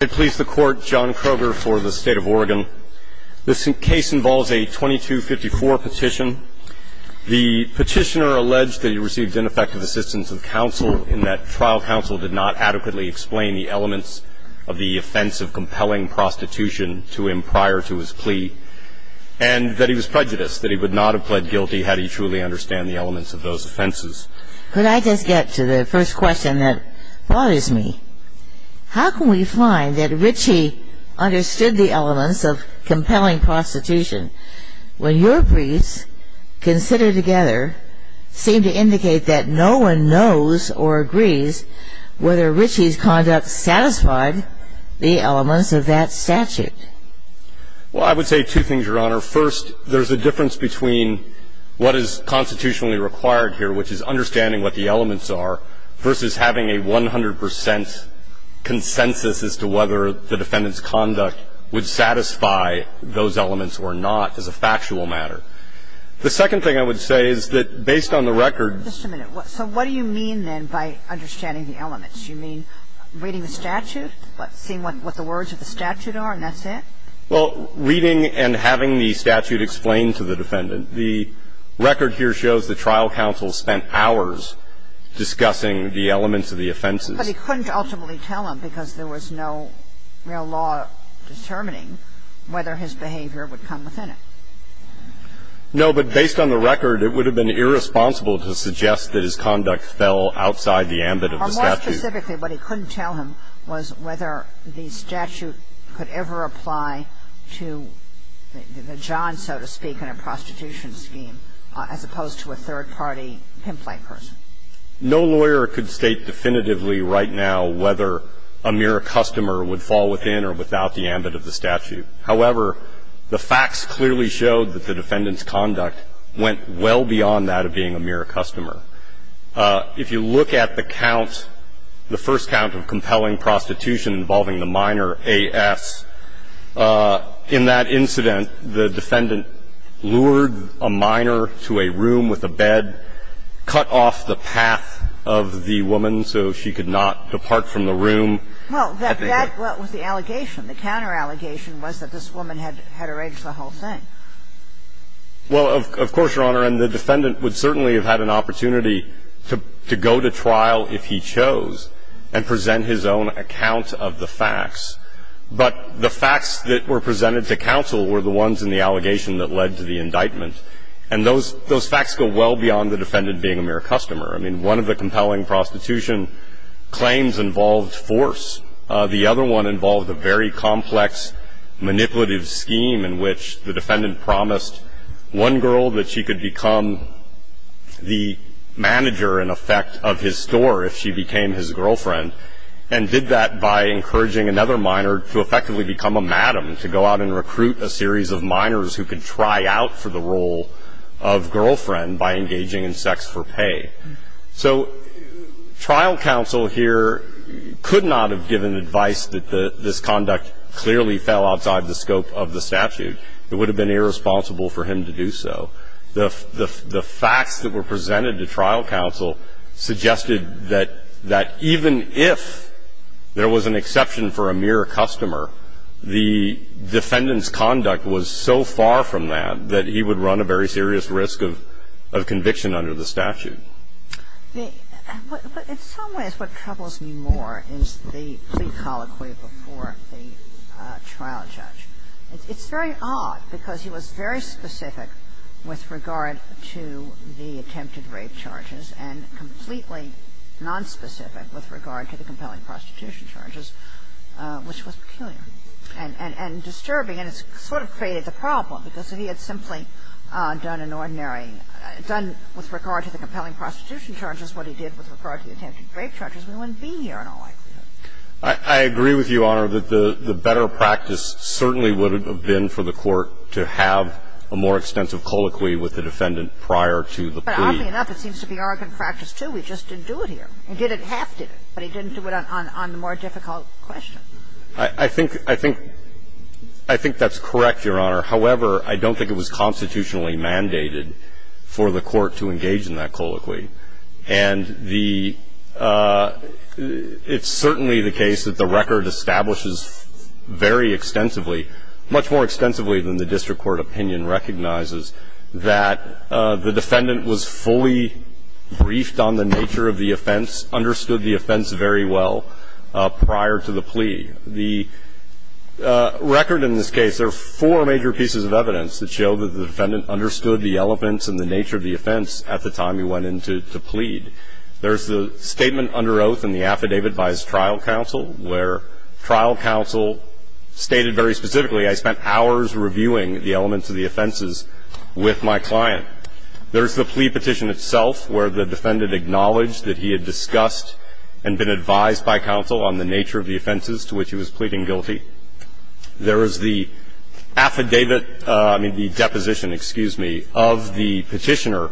I please the court, John Kroger for the State of Oregon. This case involves a 2254 petition. The petitioner alleged that he received ineffective assistance of counsel in that trial counsel did not adequately explain the elements of the offense of compelling prostitution to him prior to his plea and that he was prejudiced, that he would not have pled guilty had he truly understood the elements of those offenses. Could I just get to the first question that bothers me? How can we find that Ritchie understood the elements of compelling prostitution when your briefs considered together seem to indicate that no one knows or agrees whether Ritchie's conduct satisfied the elements of that statute? Well, I would say two things, Your Honor. First, there's a difference between what is constitutionally required here, which is understanding what the elements are, versus having a 100 percent consensus as to whether the defendant's conduct would satisfy those elements or not as a factual matter. The second thing I would say is that based on the record ---- Just a minute. So what do you mean then by understanding the elements? Do you mean reading the statute, seeing what the words of the statute are, and that's it? Well, reading and having the statute explained to the defendant. The record here shows the trial counsel spent hours discussing the elements of the offenses. But he couldn't ultimately tell him because there was no real law determining whether his behavior would come within it. No. But based on the record, it would have been irresponsible to suggest that his conduct fell outside the ambit of the statute. Or more specifically, what he couldn't tell him was whether the statute could ever apply to the John, so to speak, in a prostitution scheme, as opposed to a third-party pimplied person. No lawyer could state definitively right now whether a mere customer would fall within or without the ambit of the statute. However, the facts clearly showed that the defendant's conduct went well beyond that of being a mere customer. If you look at the count, the first count of compelling prostitution involving the minor, A.S., in that incident, the defendant lured a minor to a room with a bed, cut off the path of the woman so she could not depart from the room. Well, that was the allegation. The counterallegation was that this woman had arranged the whole thing. Well, of course, Your Honor. And the defendant would certainly have had an opportunity to go to trial if he chose and present his own account of the facts. But the facts that were presented to counsel were the ones in the allegation that led to the indictment. And those facts go well beyond the defendant being a mere customer. I mean, one of the compelling prostitution claims involved force. The other one involved a very complex manipulative scheme in which the defendant promised one girl that she could become the manager, in effect, of his store if she became his girlfriend, and did that by encouraging another minor to effectively become a madam, to go out and recruit a series of minors who could try out for the role of girlfriend by engaging in sex for pay. So trial counsel here could not have given advice that this conduct clearly fell outside the scope of the statute. It would have been irresponsible for him to do so. The facts that were presented to trial counsel suggested that even if there was an exception for a mere customer, the defendant's conduct was so far from that that he would run a very serious risk of conviction under the statute. But in some ways what troubles me more is the plea colloquy before the trial judge. It's very odd, because he was very specific with regard to the attempted rape charges and completely nonspecific with regard to the compelling prostitution charges, which was peculiar and disturbing. And it sort of faded the problem, because if he had simply done an ordinary – done with regard to the compelling prostitution charges what he did with regard to the attempted rape charges, we wouldn't be here in all likelihood. I agree with you, Your Honor, that the better practice certainly would have been for the court to have a more extensive colloquy with the defendant prior to the plea. But oddly enough, it seems to be our good practice, too. We just didn't do it here. We did it – half did it, but he didn't do it on the more difficult question. I think – I think that's correct, Your Honor. However, I don't think it was constitutionally mandated for the court to engage in that colloquy. And the – it's certainly the case that the record establishes very extensively, much more extensively than the district court opinion recognizes, that the defendant was fully briefed on the nature of the offense, understood the offense very well prior to the plea. The record in this case – there are four major pieces of evidence that show that the defendant understood the elements and the nature of the offense at the time he went in to plead. There's the statement under oath and the affidavit by his trial counsel, where trial counsel stated very specifically, I spent hours reviewing the elements of the offenses with my client. There's the plea petition itself, where the defendant acknowledged that he had discussed and been advised by counsel on the nature of the offenses to which he was pleading guilty. There is the affidavit – I mean, the deposition, excuse me, of the petitioner,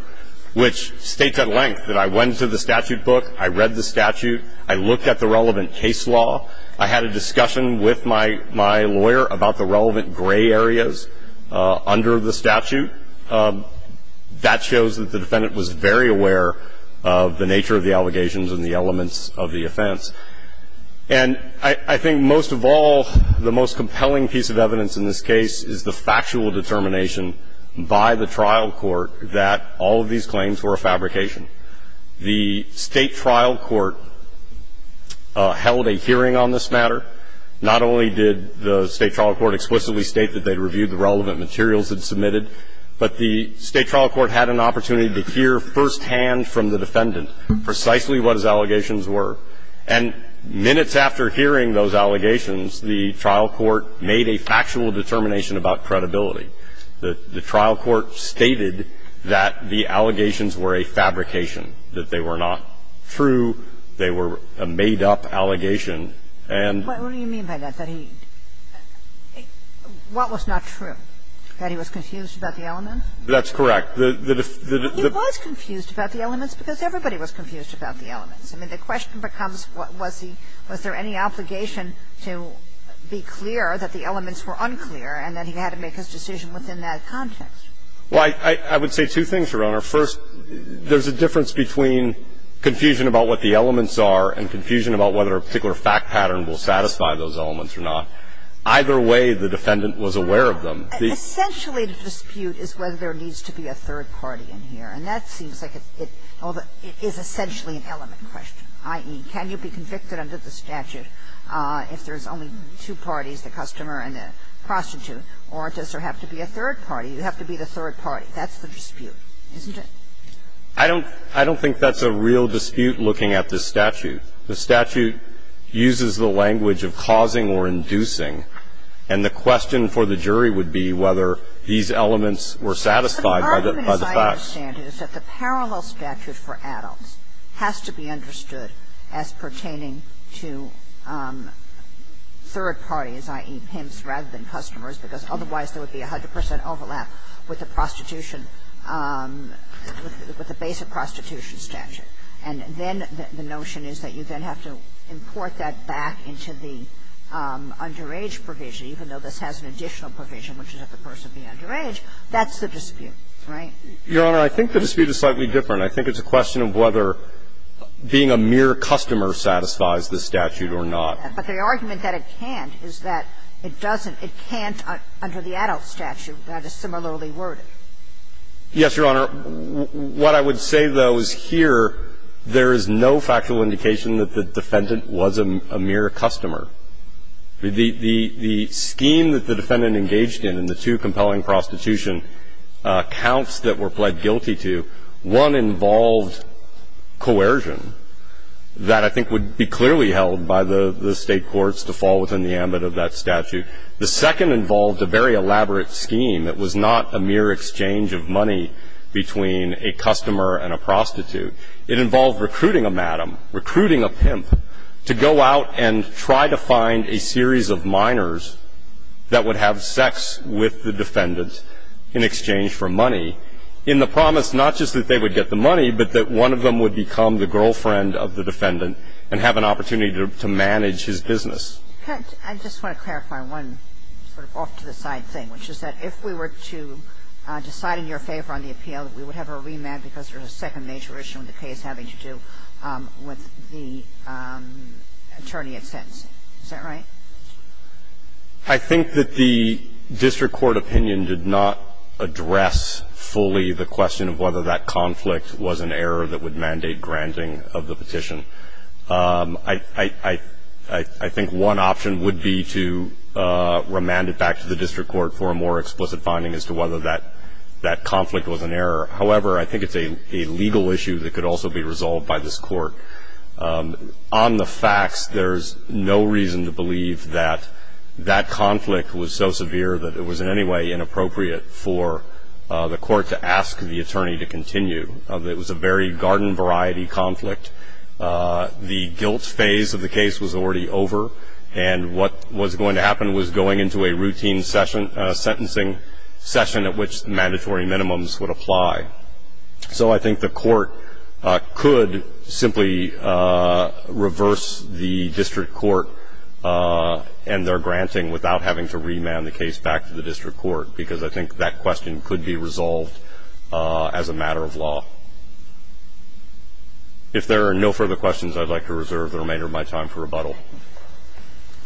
which states at length that I went to the statute book, I read the statute, I looked at the relevant case law, I had a discussion with my lawyer about the relevant gray areas under the statute. That shows that the defendant was very aware of the nature of the allegations and the elements of the offense. And I think most of all, the most compelling piece of evidence in this case is the factual determination by the trial court that all of these claims were a fabrication. The state trial court held a hearing on this matter. Not only did the state trial court explicitly state that they reviewed the relevant materials it submitted, but the state trial court had an opportunity to hear firsthand from the defendant precisely what his allegations were. And minutes after hearing those allegations, the trial court made a factual determination about credibility. The trial court stated that the allegations were a fabrication, that they were not true, they were a made-up allegation, and... And what do you mean by that? That he – what was not true? That he was confused about the elements? That's correct. He was confused about the elements because everybody was confused about the elements. I mean, the question becomes, was he – was there any obligation to be clear that the elements were unclear, and that he had to make his decision within that context? Well, I would say two things, Your Honor. First, there's a difference between confusion about what the elements are and confusion about whether a particular fact pattern will satisfy those elements or not. Either way, the defendant was aware of them. Essentially, the dispute is whether there needs to be a third party in here. And that seems like it's – it is essentially an element question, i.e., can you be convicted under the statute if there's only two parties, the customer and the prostitute, or does there have to be a third party? You have to be the third party. That's the dispute, isn't it? I don't – I don't think that's a real dispute looking at the statute. The statute uses the language of causing or inducing, and the question for the jury would be whether these elements were satisfied by the facts. And the other thing I would say is that the parallel statute for adults has to be understood as pertaining to third parties, i.e., pimps, rather than customers, because otherwise there would be 100 percent overlap with the prostitution – with the basic prostitution statute. And then the notion is that you then have to import that back into the underage provision, even though this has an additional provision, which is that the person be underage. That's the dispute, right? Your Honor, I think the dispute is slightly different. I think it's a question of whether being a mere customer satisfies the statute or not. But the argument that it can't is that it doesn't – it can't under the adult statute that is similarly worded. Yes, Your Honor. What I would say, though, is here there is no factual indication that the defendant was a mere customer. The scheme that the defendant engaged in in the two compelling prostitution counts that were pled guilty to, one involved coercion that I think would be clearly held by the State courts to fall within the ambit of that statute. The second involved a very elaborate scheme that was not a mere exchange of money between a customer and a prostitute. It involved recruiting a madam, recruiting a pimp to go out and try to find a series of minors that would have sex with the defendant in exchange for money, in the promise not just that they would get the money, but that one of them would become the girlfriend of the defendant and have an opportunity to manage his business. I just want to clarify one sort of off-to-the-side thing, which is that if we were to decide in your favor on the appeal, that we would have a remand because there is a second major issue with the case having to do with the attorney at sentence. Is that right? I think that the district court opinion did not address fully the question of whether that conflict was an error that would mandate granting of the petition. I think one option would be to remand it back to the district court for a more explicit finding as to whether that conflict was an error. However, I think it's a legal issue that could also be resolved by this court. On the facts, there's no reason to believe that that conflict was so severe that it was in any way inappropriate for the court to ask the attorney to continue. It was a very garden-variety conflict. The guilt phase of the case was already over, and what was going to happen was going into a routine sentencing session at which mandatory minimums would apply. So I think the court could simply reverse the district court and their granting without having to remand the case back to the district court, because I think that question could be resolved as a matter of law. If there are no further questions, I'd like to reserve the remainder of my time for rebuttal. All right. And over to Justice Breyer. The next witness is Miss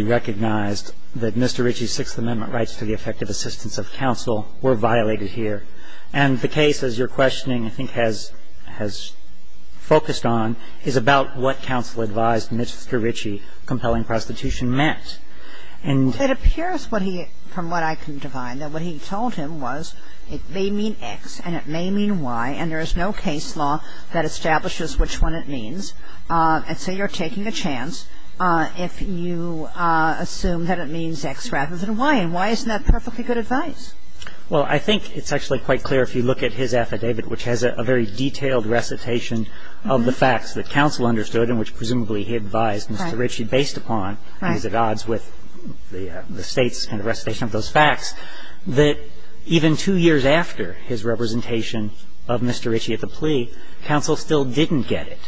Serra. Mr. Ritchie, Sixth Amendment rights to the effective assistance of counsel were violated here, and the case, as your questioning I think has focused on, is about what counsel advised Mr. Ritchie compelling prostitution meant, and It appears what he, from what I can define, that what he told him was it may mean X and it may mean Y, and there is no case law that establishes which one it means. And so you're taking a chance if you assume that it means X rather than Y, and why isn't that perfectly good advice? Well, I think it's actually quite clear, if you look at his affidavit, which has a very detailed recitation of the facts that counsel understood and which presumably he advised Mr. Ritchie based upon, he's at odds with the State's recitation of those facts, that even two years after his representation of Mr. Ritchie at the plea, counsel still didn't get it.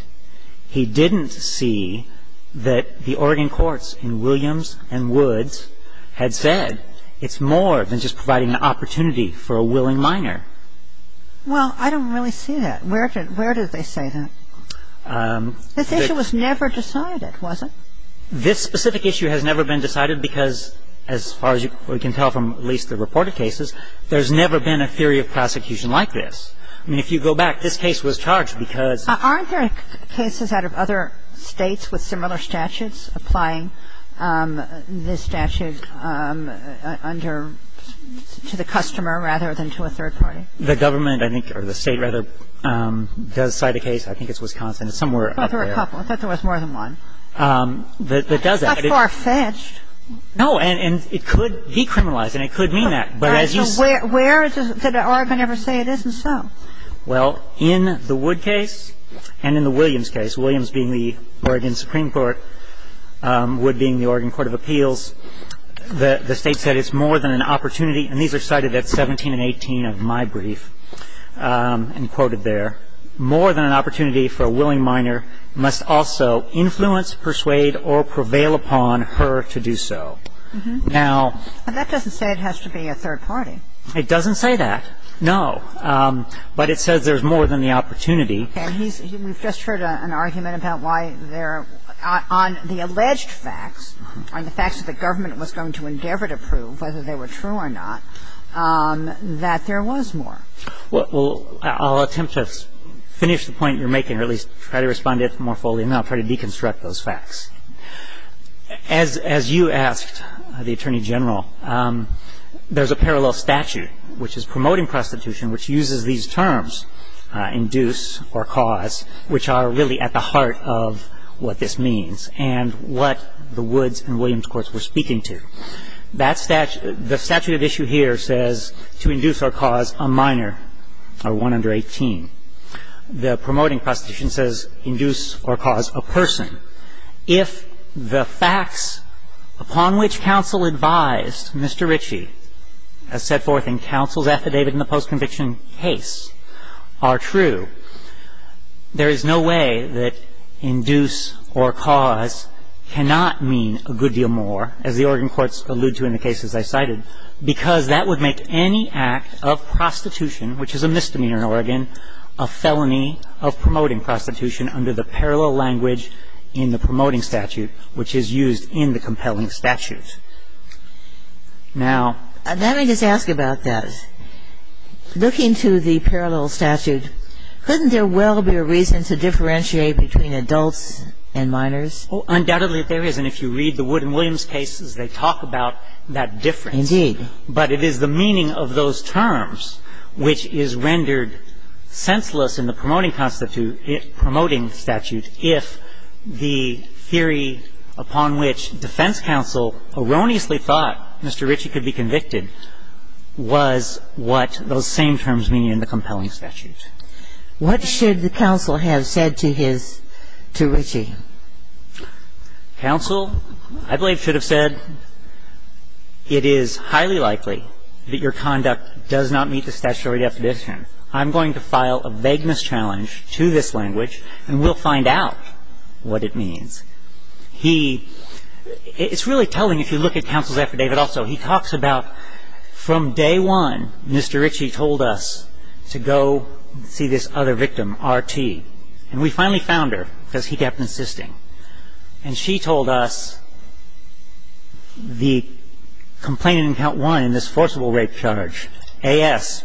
He didn't see that the Oregon courts in Williams and Woods had said it's more than just providing an opportunity for a willing minor. Well, I don't really see that. Where did they say that? This issue was never decided, was it? This specific issue has never been decided because, as far as we can tell from at least the reported cases, there's never been a theory of prosecution like this. I mean, if you go back, this case was charged because Aren't there cases out of other states with similar statutes applying this statute under to the customer rather than to a third party? The government I think or the state rather does cite a case, I think it's Wisconsin, somewhere up there. There are a couple. I thought there was more than one. That does that. That's farfetched. No, and it could decriminalize, and it could mean that. But where does the Oregon ever say it isn't so? Well, in the Wood case and in the Williams case, Williams being the Oregon Supreme Court, Wood being the Oregon Court of Appeals, the state said it's more than an opportunity, and these are cited at 17 and 18 of my brief and quoted there, more than an opportunity for a willing minor must also influence, persuade, or prevail upon her to do so. Now. But that doesn't say it has to be a third party. It doesn't say that, no. But it says there's more than the opportunity. And we've just heard an argument about why there are, on the alleged facts, on the facts that the government was going to endeavor to prove, whether they were true or not, that there was more. Well, I'll attempt to finish the point you're making or at least try to respond to it more fully. And then I'll try to deconstruct those facts. As you asked the Attorney General, there's a parallel statute, which is promoting prostitution, which uses these terms, induce or cause, which are really at the heart of what this means and what the Woods and Williams courts were speaking to. That statute of issue here says to induce or cause a minor or one under 18. The promoting prostitution says induce or cause a person. If the facts upon which counsel advised Mr. Ritchie, as set forth in counsel's affidavit in the post-conviction case, are true, there is no way that induce or cause cannot mean a good deal more, as the Oregon courts allude to in the cases I cited, because that would make any act of prostitution, which is a misdemeanor in Oregon, a felony of promoting prostitution under the parallel language in the promoting statute, which is used in the compelling statute. Now ---- Let me just ask about that. Looking to the parallel statute, couldn't there well be a reason to differentiate between adults and minors? Well, undoubtedly there is. And if you read the Woods and Williams cases, they talk about that difference. Indeed. But it is the meaning of those terms which is rendered senseless in the promoting statute if the theory upon which defense counsel erroneously thought Mr. Ritchie could be convicted was what those same terms mean in the compelling statute. What should the counsel have said to his ---- to Ritchie? Counsel, I believe, should have said it is highly likely that your conduct does not meet the statutory definition. I'm going to file a vagueness challenge to this language, and we'll find out what it means. He ---- it's really telling if you look at counsel's affidavit also. He talks about from day one, Mr. Ritchie told us to go see this other victim, R.T. And we finally found her because he kept insisting. And she told us the complainant in count one in this forcible rape charge, A.S.,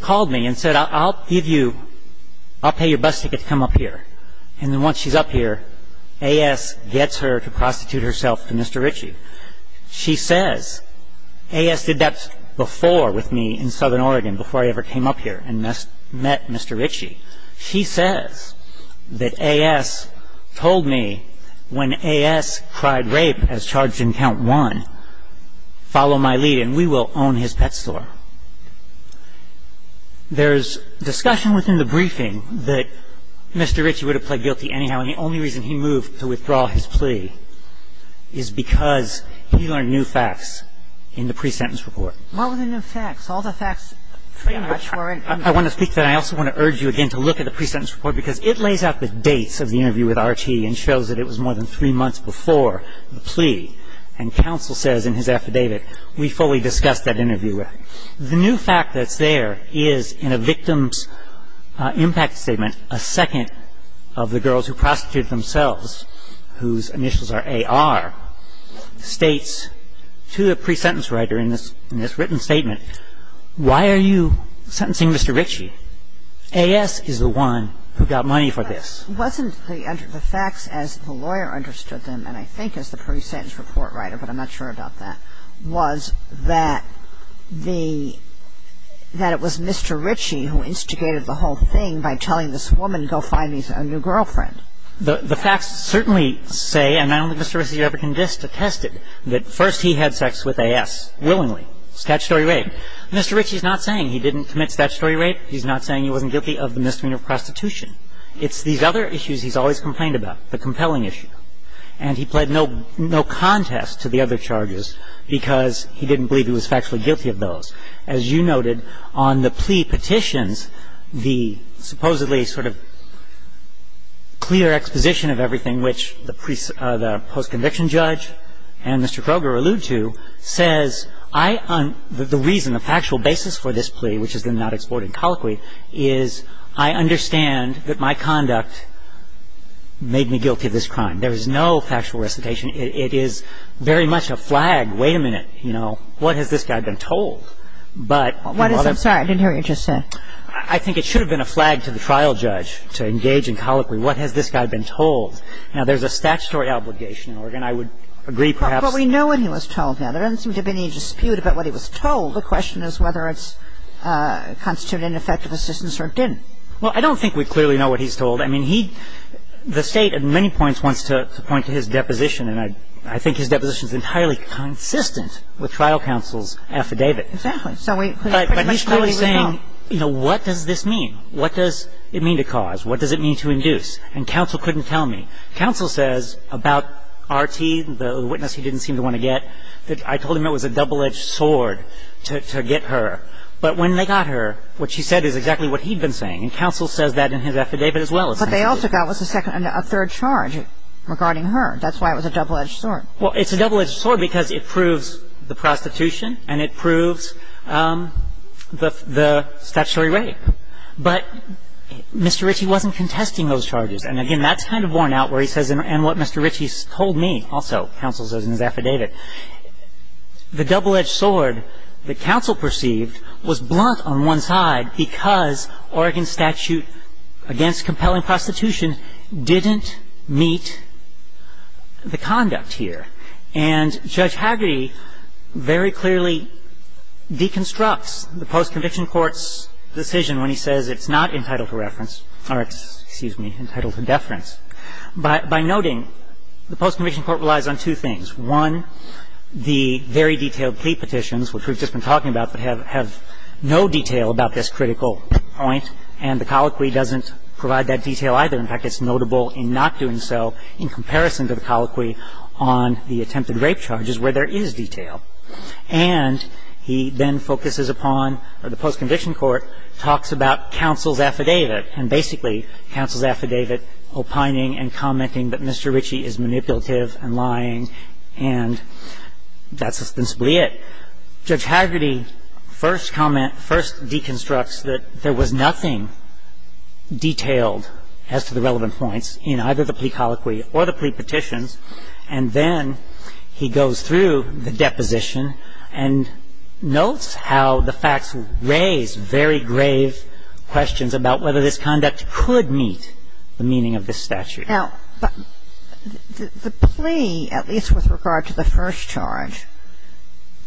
called me and said, I'll give you ---- I'll pay your bus ticket to come up here. And then once she's up here, A.S. gets her to prostitute herself to Mr. Ritchie. She says, A.S. did that before with me in Southern Oregon, before I ever came up here and met Mr. Ritchie. She says that A.S. told me when A.S. tried rape as charged in count one, follow my lead and we will own his pet store. There's discussion within the briefing that Mr. Ritchie would have pled guilty anyhow, and the only reason he moved to withdraw his plea is because he learned new facts in the pre-sentence report. What were the new facts? All the facts pretty much were in ---- I want to speak to that. I also want to urge you again to look at the pre-sentence report because it lays out the dates of the interview with R.T. and shows that it was more than three months before the plea. And counsel says in his affidavit, we fully discussed that interview. The new fact that's there is in a victim's impact statement, a second of the girls who prostituted themselves, whose initials are A.R., states to the pre-sentence writer in this written statement, why are you sentencing Mr. Ritchie? A.S. is the one who got money for this. Wasn't the facts as the lawyer understood them, and I think as the pre-sentence report writer, but I'm not sure about that, was that the ---- that it was Mr. Ritchie who instigated the whole thing by telling this woman, go find me a new girlfriend. The facts certainly say, and I don't think Mr. Ritchie ever contested, that first he had sex with A.S. willingly, statutory rape. Mr. Ritchie is not saying he didn't commit statutory rape. He's not saying he wasn't guilty of the misdemeanor of prostitution. It's these other issues he's always complained about, the compelling issue. And he pled no contest to the other charges because he didn't believe he was factually guilty of those. As you noted, on the plea petitions, the supposedly sort of clear exposition of everything which the post-conviction judge and Mr. Kroger allude to says, the reason, the factual basis for this plea, which is the not-exported colloquy, is I understand that my conduct made me guilty of this crime. There is no factual recitation. It is very much a flag. Wait a minute. You know, what has this guy been told? But the mother... I'm sorry. I didn't hear what you just said. I think it should have been a flag to the trial judge to engage in colloquy. What has this guy been told? Now, there's a statutory obligation in Oregon. I would agree perhaps... But we know what he was told. Now, there doesn't seem to be any dispute about what he was told. The question is whether it's constituted ineffective assistance or it didn't. Well, I don't think we clearly know what he's told. I mean, he, the State at many points wants to point to his deposition, and I think his deposition is entirely consistent with trial counsel's affidavit. Exactly. So we... But he's clearly saying, you know, what does this mean? What does it mean to cause? What does it mean to induce? And counsel couldn't tell me. Counsel says about R.T., the witness he didn't seem to want to get, that I told him it was a double-edged sword to get her. But when they got her, what she said is exactly what he'd been saying. And counsel says that in his affidavit as well, essentially. But they also got what's the second and a third charge regarding her. That's why it was a double-edged sword. Well, it's a double-edged sword because it proves the prostitution and it proves the statutory rape. But Mr. Ritchie wasn't contesting those charges. And, again, that's kind of worn out where he says, and what Mr. Ritchie's told me also, counsel says in his affidavit, the double-edged sword that counsel perceived was blunt on one side because Oregon statute against compelling prostitution didn't meet the conduct here. And Judge Hagerty very clearly deconstructs the post-conviction court's decision when he says it's not entitled to reference or, excuse me, entitled to deference by noting the post-conviction court relies on two things. One, the very detailed plea petitions, which we've just been talking about, that have no detail about this critical point, and the colloquy doesn't provide that detail either. In fact, it's notable in not doing so in comparison to the colloquy on the attempted rape charges where there is detail. And he then focuses upon the post-conviction court talks about counsel's affidavit and basically counsel's affidavit opining and commenting that Mr. Ritchie is manipulative and lying, and that's ostensibly it. Judge Hagerty first comment, first deconstructs that there was nothing detailed as to the relevant points in either the plea colloquy or the plea petitions, and then he goes through the deposition and notes how the facts raise very grave questions about whether this conduct could meet the meaning of this statute. Now, the plea, at least with regard to the first charge,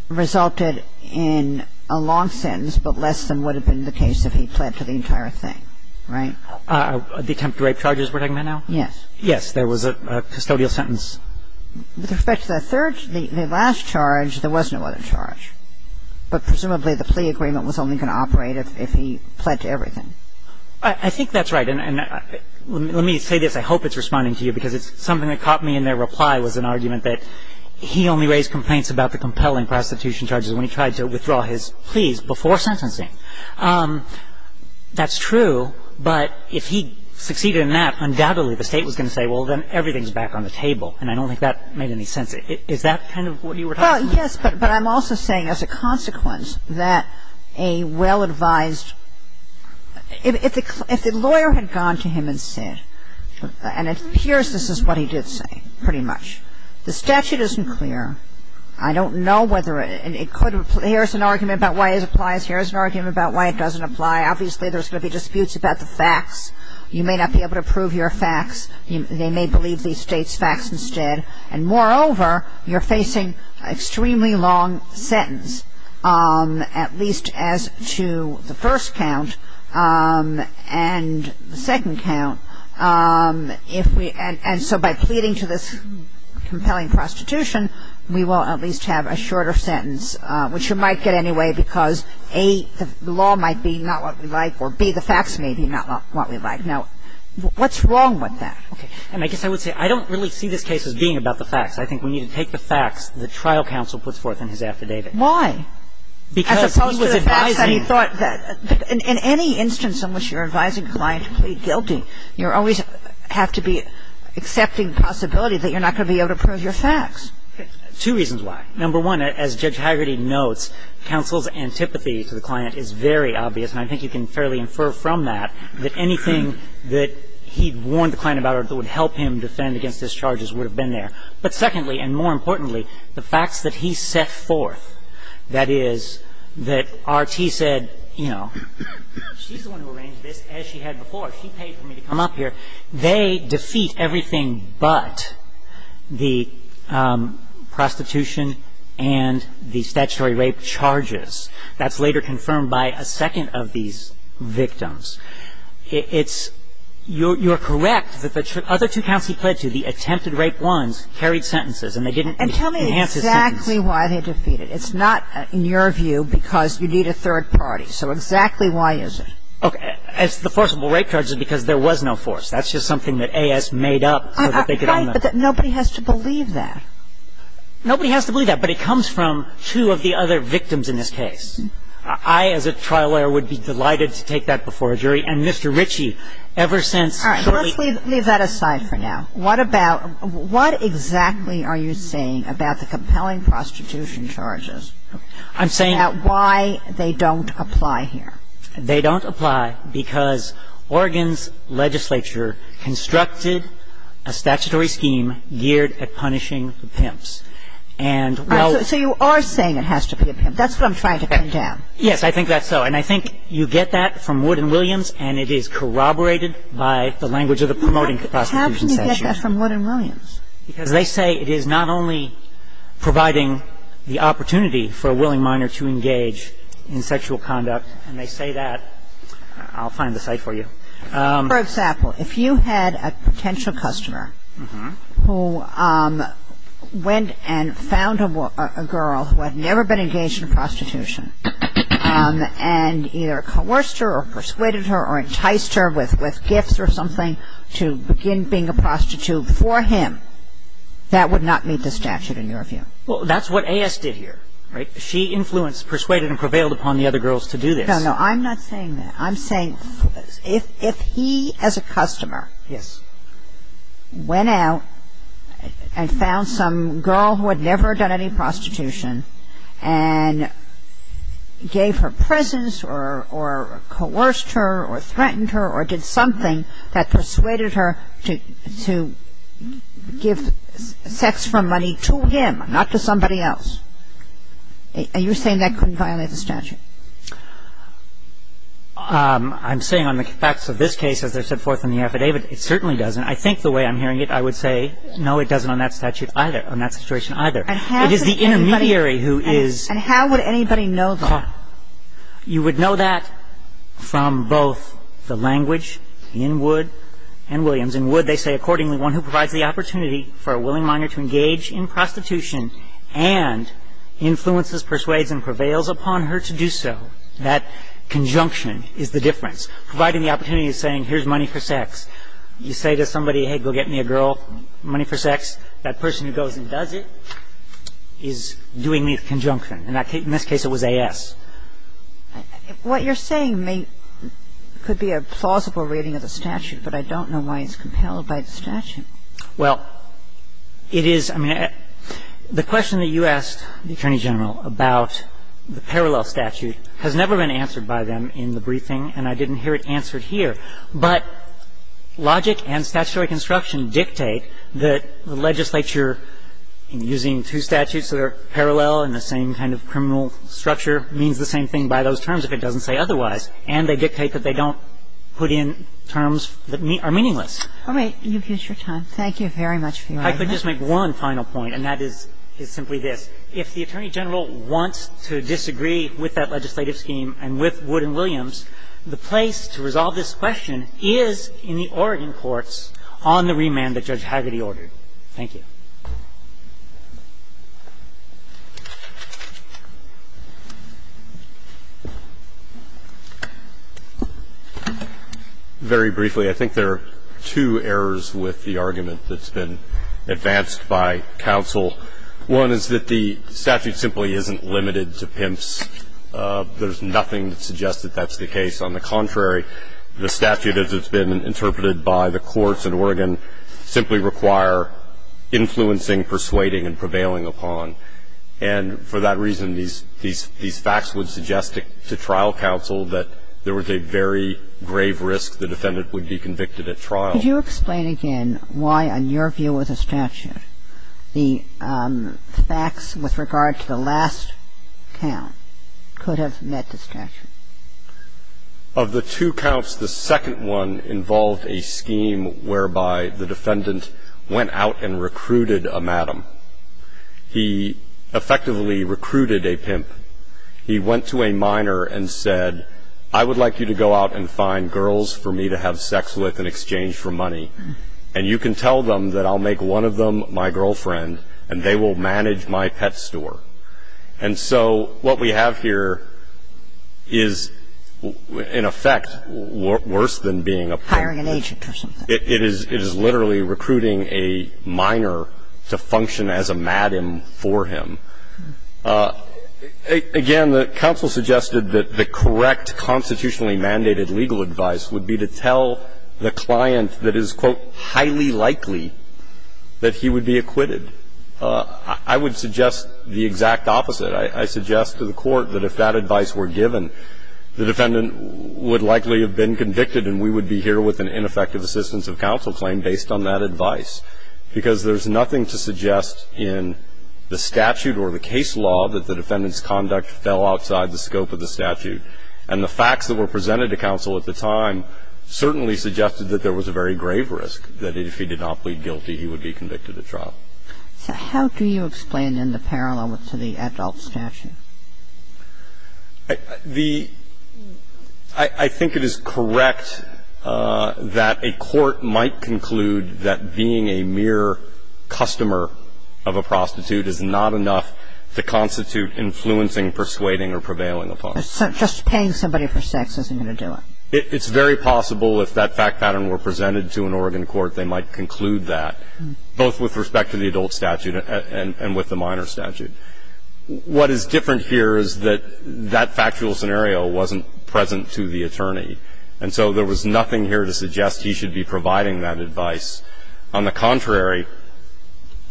resulted in a long sentence, but less than would have been the case if he pled to the entire thing, right? The attempted rape charges we're talking about now? Yes. Yes. There was a custodial sentence. With respect to the third, the last charge, there was no other charge. But presumably the plea agreement was only going to operate if he pled to everything. I think that's right. And let me say this. I hope it's responding to you because it's something that caught me in their reply was an argument that he only raised complaints about the compelling prostitution charges when he tried to withdraw his pleas before sentencing. That's true, but if he succeeded in that, undoubtedly the State was going to say, well, then everything's back on the table, and I don't think that made any sense. Is that kind of what you were talking about? Well, yes, but I'm also saying as a consequence that a well-advised if the lawyer had gone to him and said, and it appears this is what he did say, pretty much, the statute isn't clear. I don't know whether it could – here's an argument about why it applies, here's an argument about why it doesn't apply. Obviously, there's going to be disputes about the facts. You may not be able to prove your facts. They may believe the State's facts instead. And moreover, you're facing an extremely long sentence, at least as to the first count and the second count. And so by pleading to this compelling prostitution, we will at least have a shorter sentence, which you might get anyway because A, the law might be not what we like, or B, the facts may be not what we like. Now, what's wrong with that? Okay. And I guess I would say I don't really see this case as being about the facts. I think we need to take the facts the trial counsel puts forth in his affidavit. Because he was advising. As opposed to the facts that he thought that – in any instance in which you're advising a client to plead guilty, you always have to be accepting the possibility that you're not going to be able to prove your facts. Two reasons why. Number one, as Judge Hagerty notes, counsel's antipathy to the client is very obvious, and I think you can fairly infer from that that anything that he'd warned the client about or that would help him defend against his charges would have been there. But secondly, and more importantly, the facts that he set forth, that is, that R.T. said, you know, she's the one who arranged this as she had before. She paid for me to come up here. They defeat everything but the prostitution and the statutory rape charges. That's later confirmed by a second of these victims. It's – you're correct that the other two counts he pled to, the attempted rape ones, carried sentences, and they didn't enhance his sentence. And tell me exactly why they defeated. It's not, in your view, because you need a third party. So exactly why is it? Okay. It's the forcible rape charges because there was no force. That's just something that A.S. made up so that they could own them. Right, but nobody has to believe that. Nobody has to believe that, but it comes from two of the other victims in this case. I, as a trial lawyer, would be delighted to take that before a jury. And Mr. Ritchie, ever since shortly – All right. Let's leave that aside for now. What about – what exactly are you saying about the compelling prostitution charges? I'm saying – About why they don't apply here. They don't apply because Oregon's legislature constructed a statutory scheme geared at punishing the pimps. And while – So you are saying it has to be a pimp. That's what I'm trying to condemn. Yes, I think that's so. And I think you get that from Wood and Williams, and it is corroborated by the language of the Promoting Prostitution section. How can you get that from Wood and Williams? Because they say it is not only providing the opportunity for a willing minor to engage in sexual conduct, and they say that – I'll find the site for you. For example, if you had a potential customer who went and found a girl who had never been engaged in prostitution and either coerced her or persuaded her or enticed her with gifts or something to begin being a prostitute for him, that would not meet the statute in your view. Well, that's what A.S. did here, right? She influenced, persuaded and prevailed upon the other girls to do this. No, no. I'm not saying that. I'm saying if he as a customer went out and found some girl who had never done any prostitution and gave her presents or coerced her or threatened her or did something that persuaded her to give sex for money to him, not to somebody else, and you're saying that couldn't violate the statute? I'm saying on the facts of this case, as they're set forth in the affidavit, it certainly doesn't. I think the way I'm hearing it, I would say, no, it doesn't on that statute either, on that situation either. It is the intermediary who is – And how would anybody know that? You would know that from both the language in Wood and Williams. In Wood, they say, accordingly, one who provides the opportunity for a willing minor to engage in prostitution and influences, persuades and prevails upon her to do so, that conjunction is the difference. Providing the opportunity is saying, here's money for sex. You say to somebody, hey, go get me a girl, money for sex, that person who goes and does it is doing the conjunction. In this case, it was A.S. What you're saying may – could be a plausible reading of the statute, but I don't know why it's compelled by the statute. Well, it is – I mean, the question that you asked the Attorney General about the parallel statute has never been answered by them in the briefing, and I didn't hear it answered here. But logic and statutory construction dictate that the legislature, in using two statutes that are parallel and the same kind of criminal structure, means the same thing by those terms if it doesn't say otherwise. And they dictate that they don't put in terms that are meaningless. All right. You've used your time. Thank you very much for your argument. I could just make one final point, and that is simply this. If the Attorney General wants to disagree with that legislative scheme and with Wood and Williams, the place to resolve this question is in the Oregon courts on the remand that Judge Hagerty ordered. Thank you. Very briefly, I think there are two errors with the argument that's been advanced by counsel. One is that the statute simply isn't limited to pimps. There's nothing that suggests that that's the case. On the contrary, the statute, as it's been interpreted by the courts in Oregon, simply require influencing, persuading, and prevailing upon. And for that reason, these facts would suggest to trial counsel that there was a very grave risk the defendant would be convicted at trial. Could you explain again why, on your view of the statute, the facts with regard to the last count could have met the statute? Of the two counts, the second one involved a scheme whereby the defendant went out and recruited a madam. He effectively recruited a pimp. The second one involved a scheme whereby the defendant went out and recruited a minor. He went to a minor and said, I would like you to go out and find girls for me to have sex with in exchange for money. And you can tell them that I'll make one of them my girlfriend, and they will manage my pet store. And so what we have here is, in effect, worse than being a pimp. Hiring an agent or something. It is literally recruiting a minor to function as a madam for him. Again, the counsel suggested that the correct constitutionally mandated legal advice would be to tell the client that it is, quote, highly likely that he would be acquitted. I would suggest the exact opposite. I suggest to the court that if that advice were given, the defendant would likely have been convicted and we would be here with an ineffective assistance of counsel claim based on that advice. Because there's nothing to suggest in the statute or the case law that the defendant's conduct fell outside the scope of the statute. And the facts that were presented to counsel at the time certainly suggested that there was a very grave risk, that if he did not plead guilty, he would be convicted at trial. So how do you explain, in the parallel to the adult statute? I think it is correct that a court might conclude that being a mere customer of a prostitute is not enough to constitute influencing, persuading, or prevailing upon. So just paying somebody for sex isn't going to do it? It's very possible if that fact pattern were presented to an Oregon court, they might conclude that, both with respect to the adult statute and with the minor statute. What is different here is that that factual scenario wasn't present to the attorney. And so there was nothing here to suggest he should be providing that advice. On the contrary,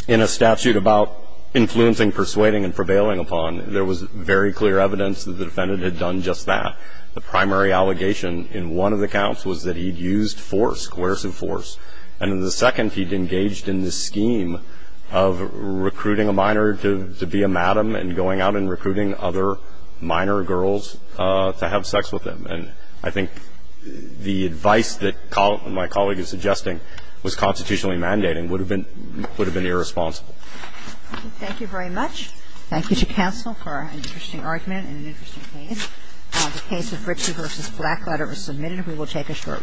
in a statute about influencing, persuading, and prevailing upon, there was very clear evidence that the defendant had done just that. The primary allegation in one of the counts was that he'd used force, coercive force. And in the second, he'd engaged in this scheme of recruiting a minor to be a madam and going out and recruiting other minor girls to have sex with him. And I think the advice that my colleague is suggesting was constitutionally mandating would have been irresponsible. Thank you very much. Thank you to counsel for an interesting argument and an interesting case. The case of Ritchie v. Blackletter was submitted. We will take a short recess. Thank you.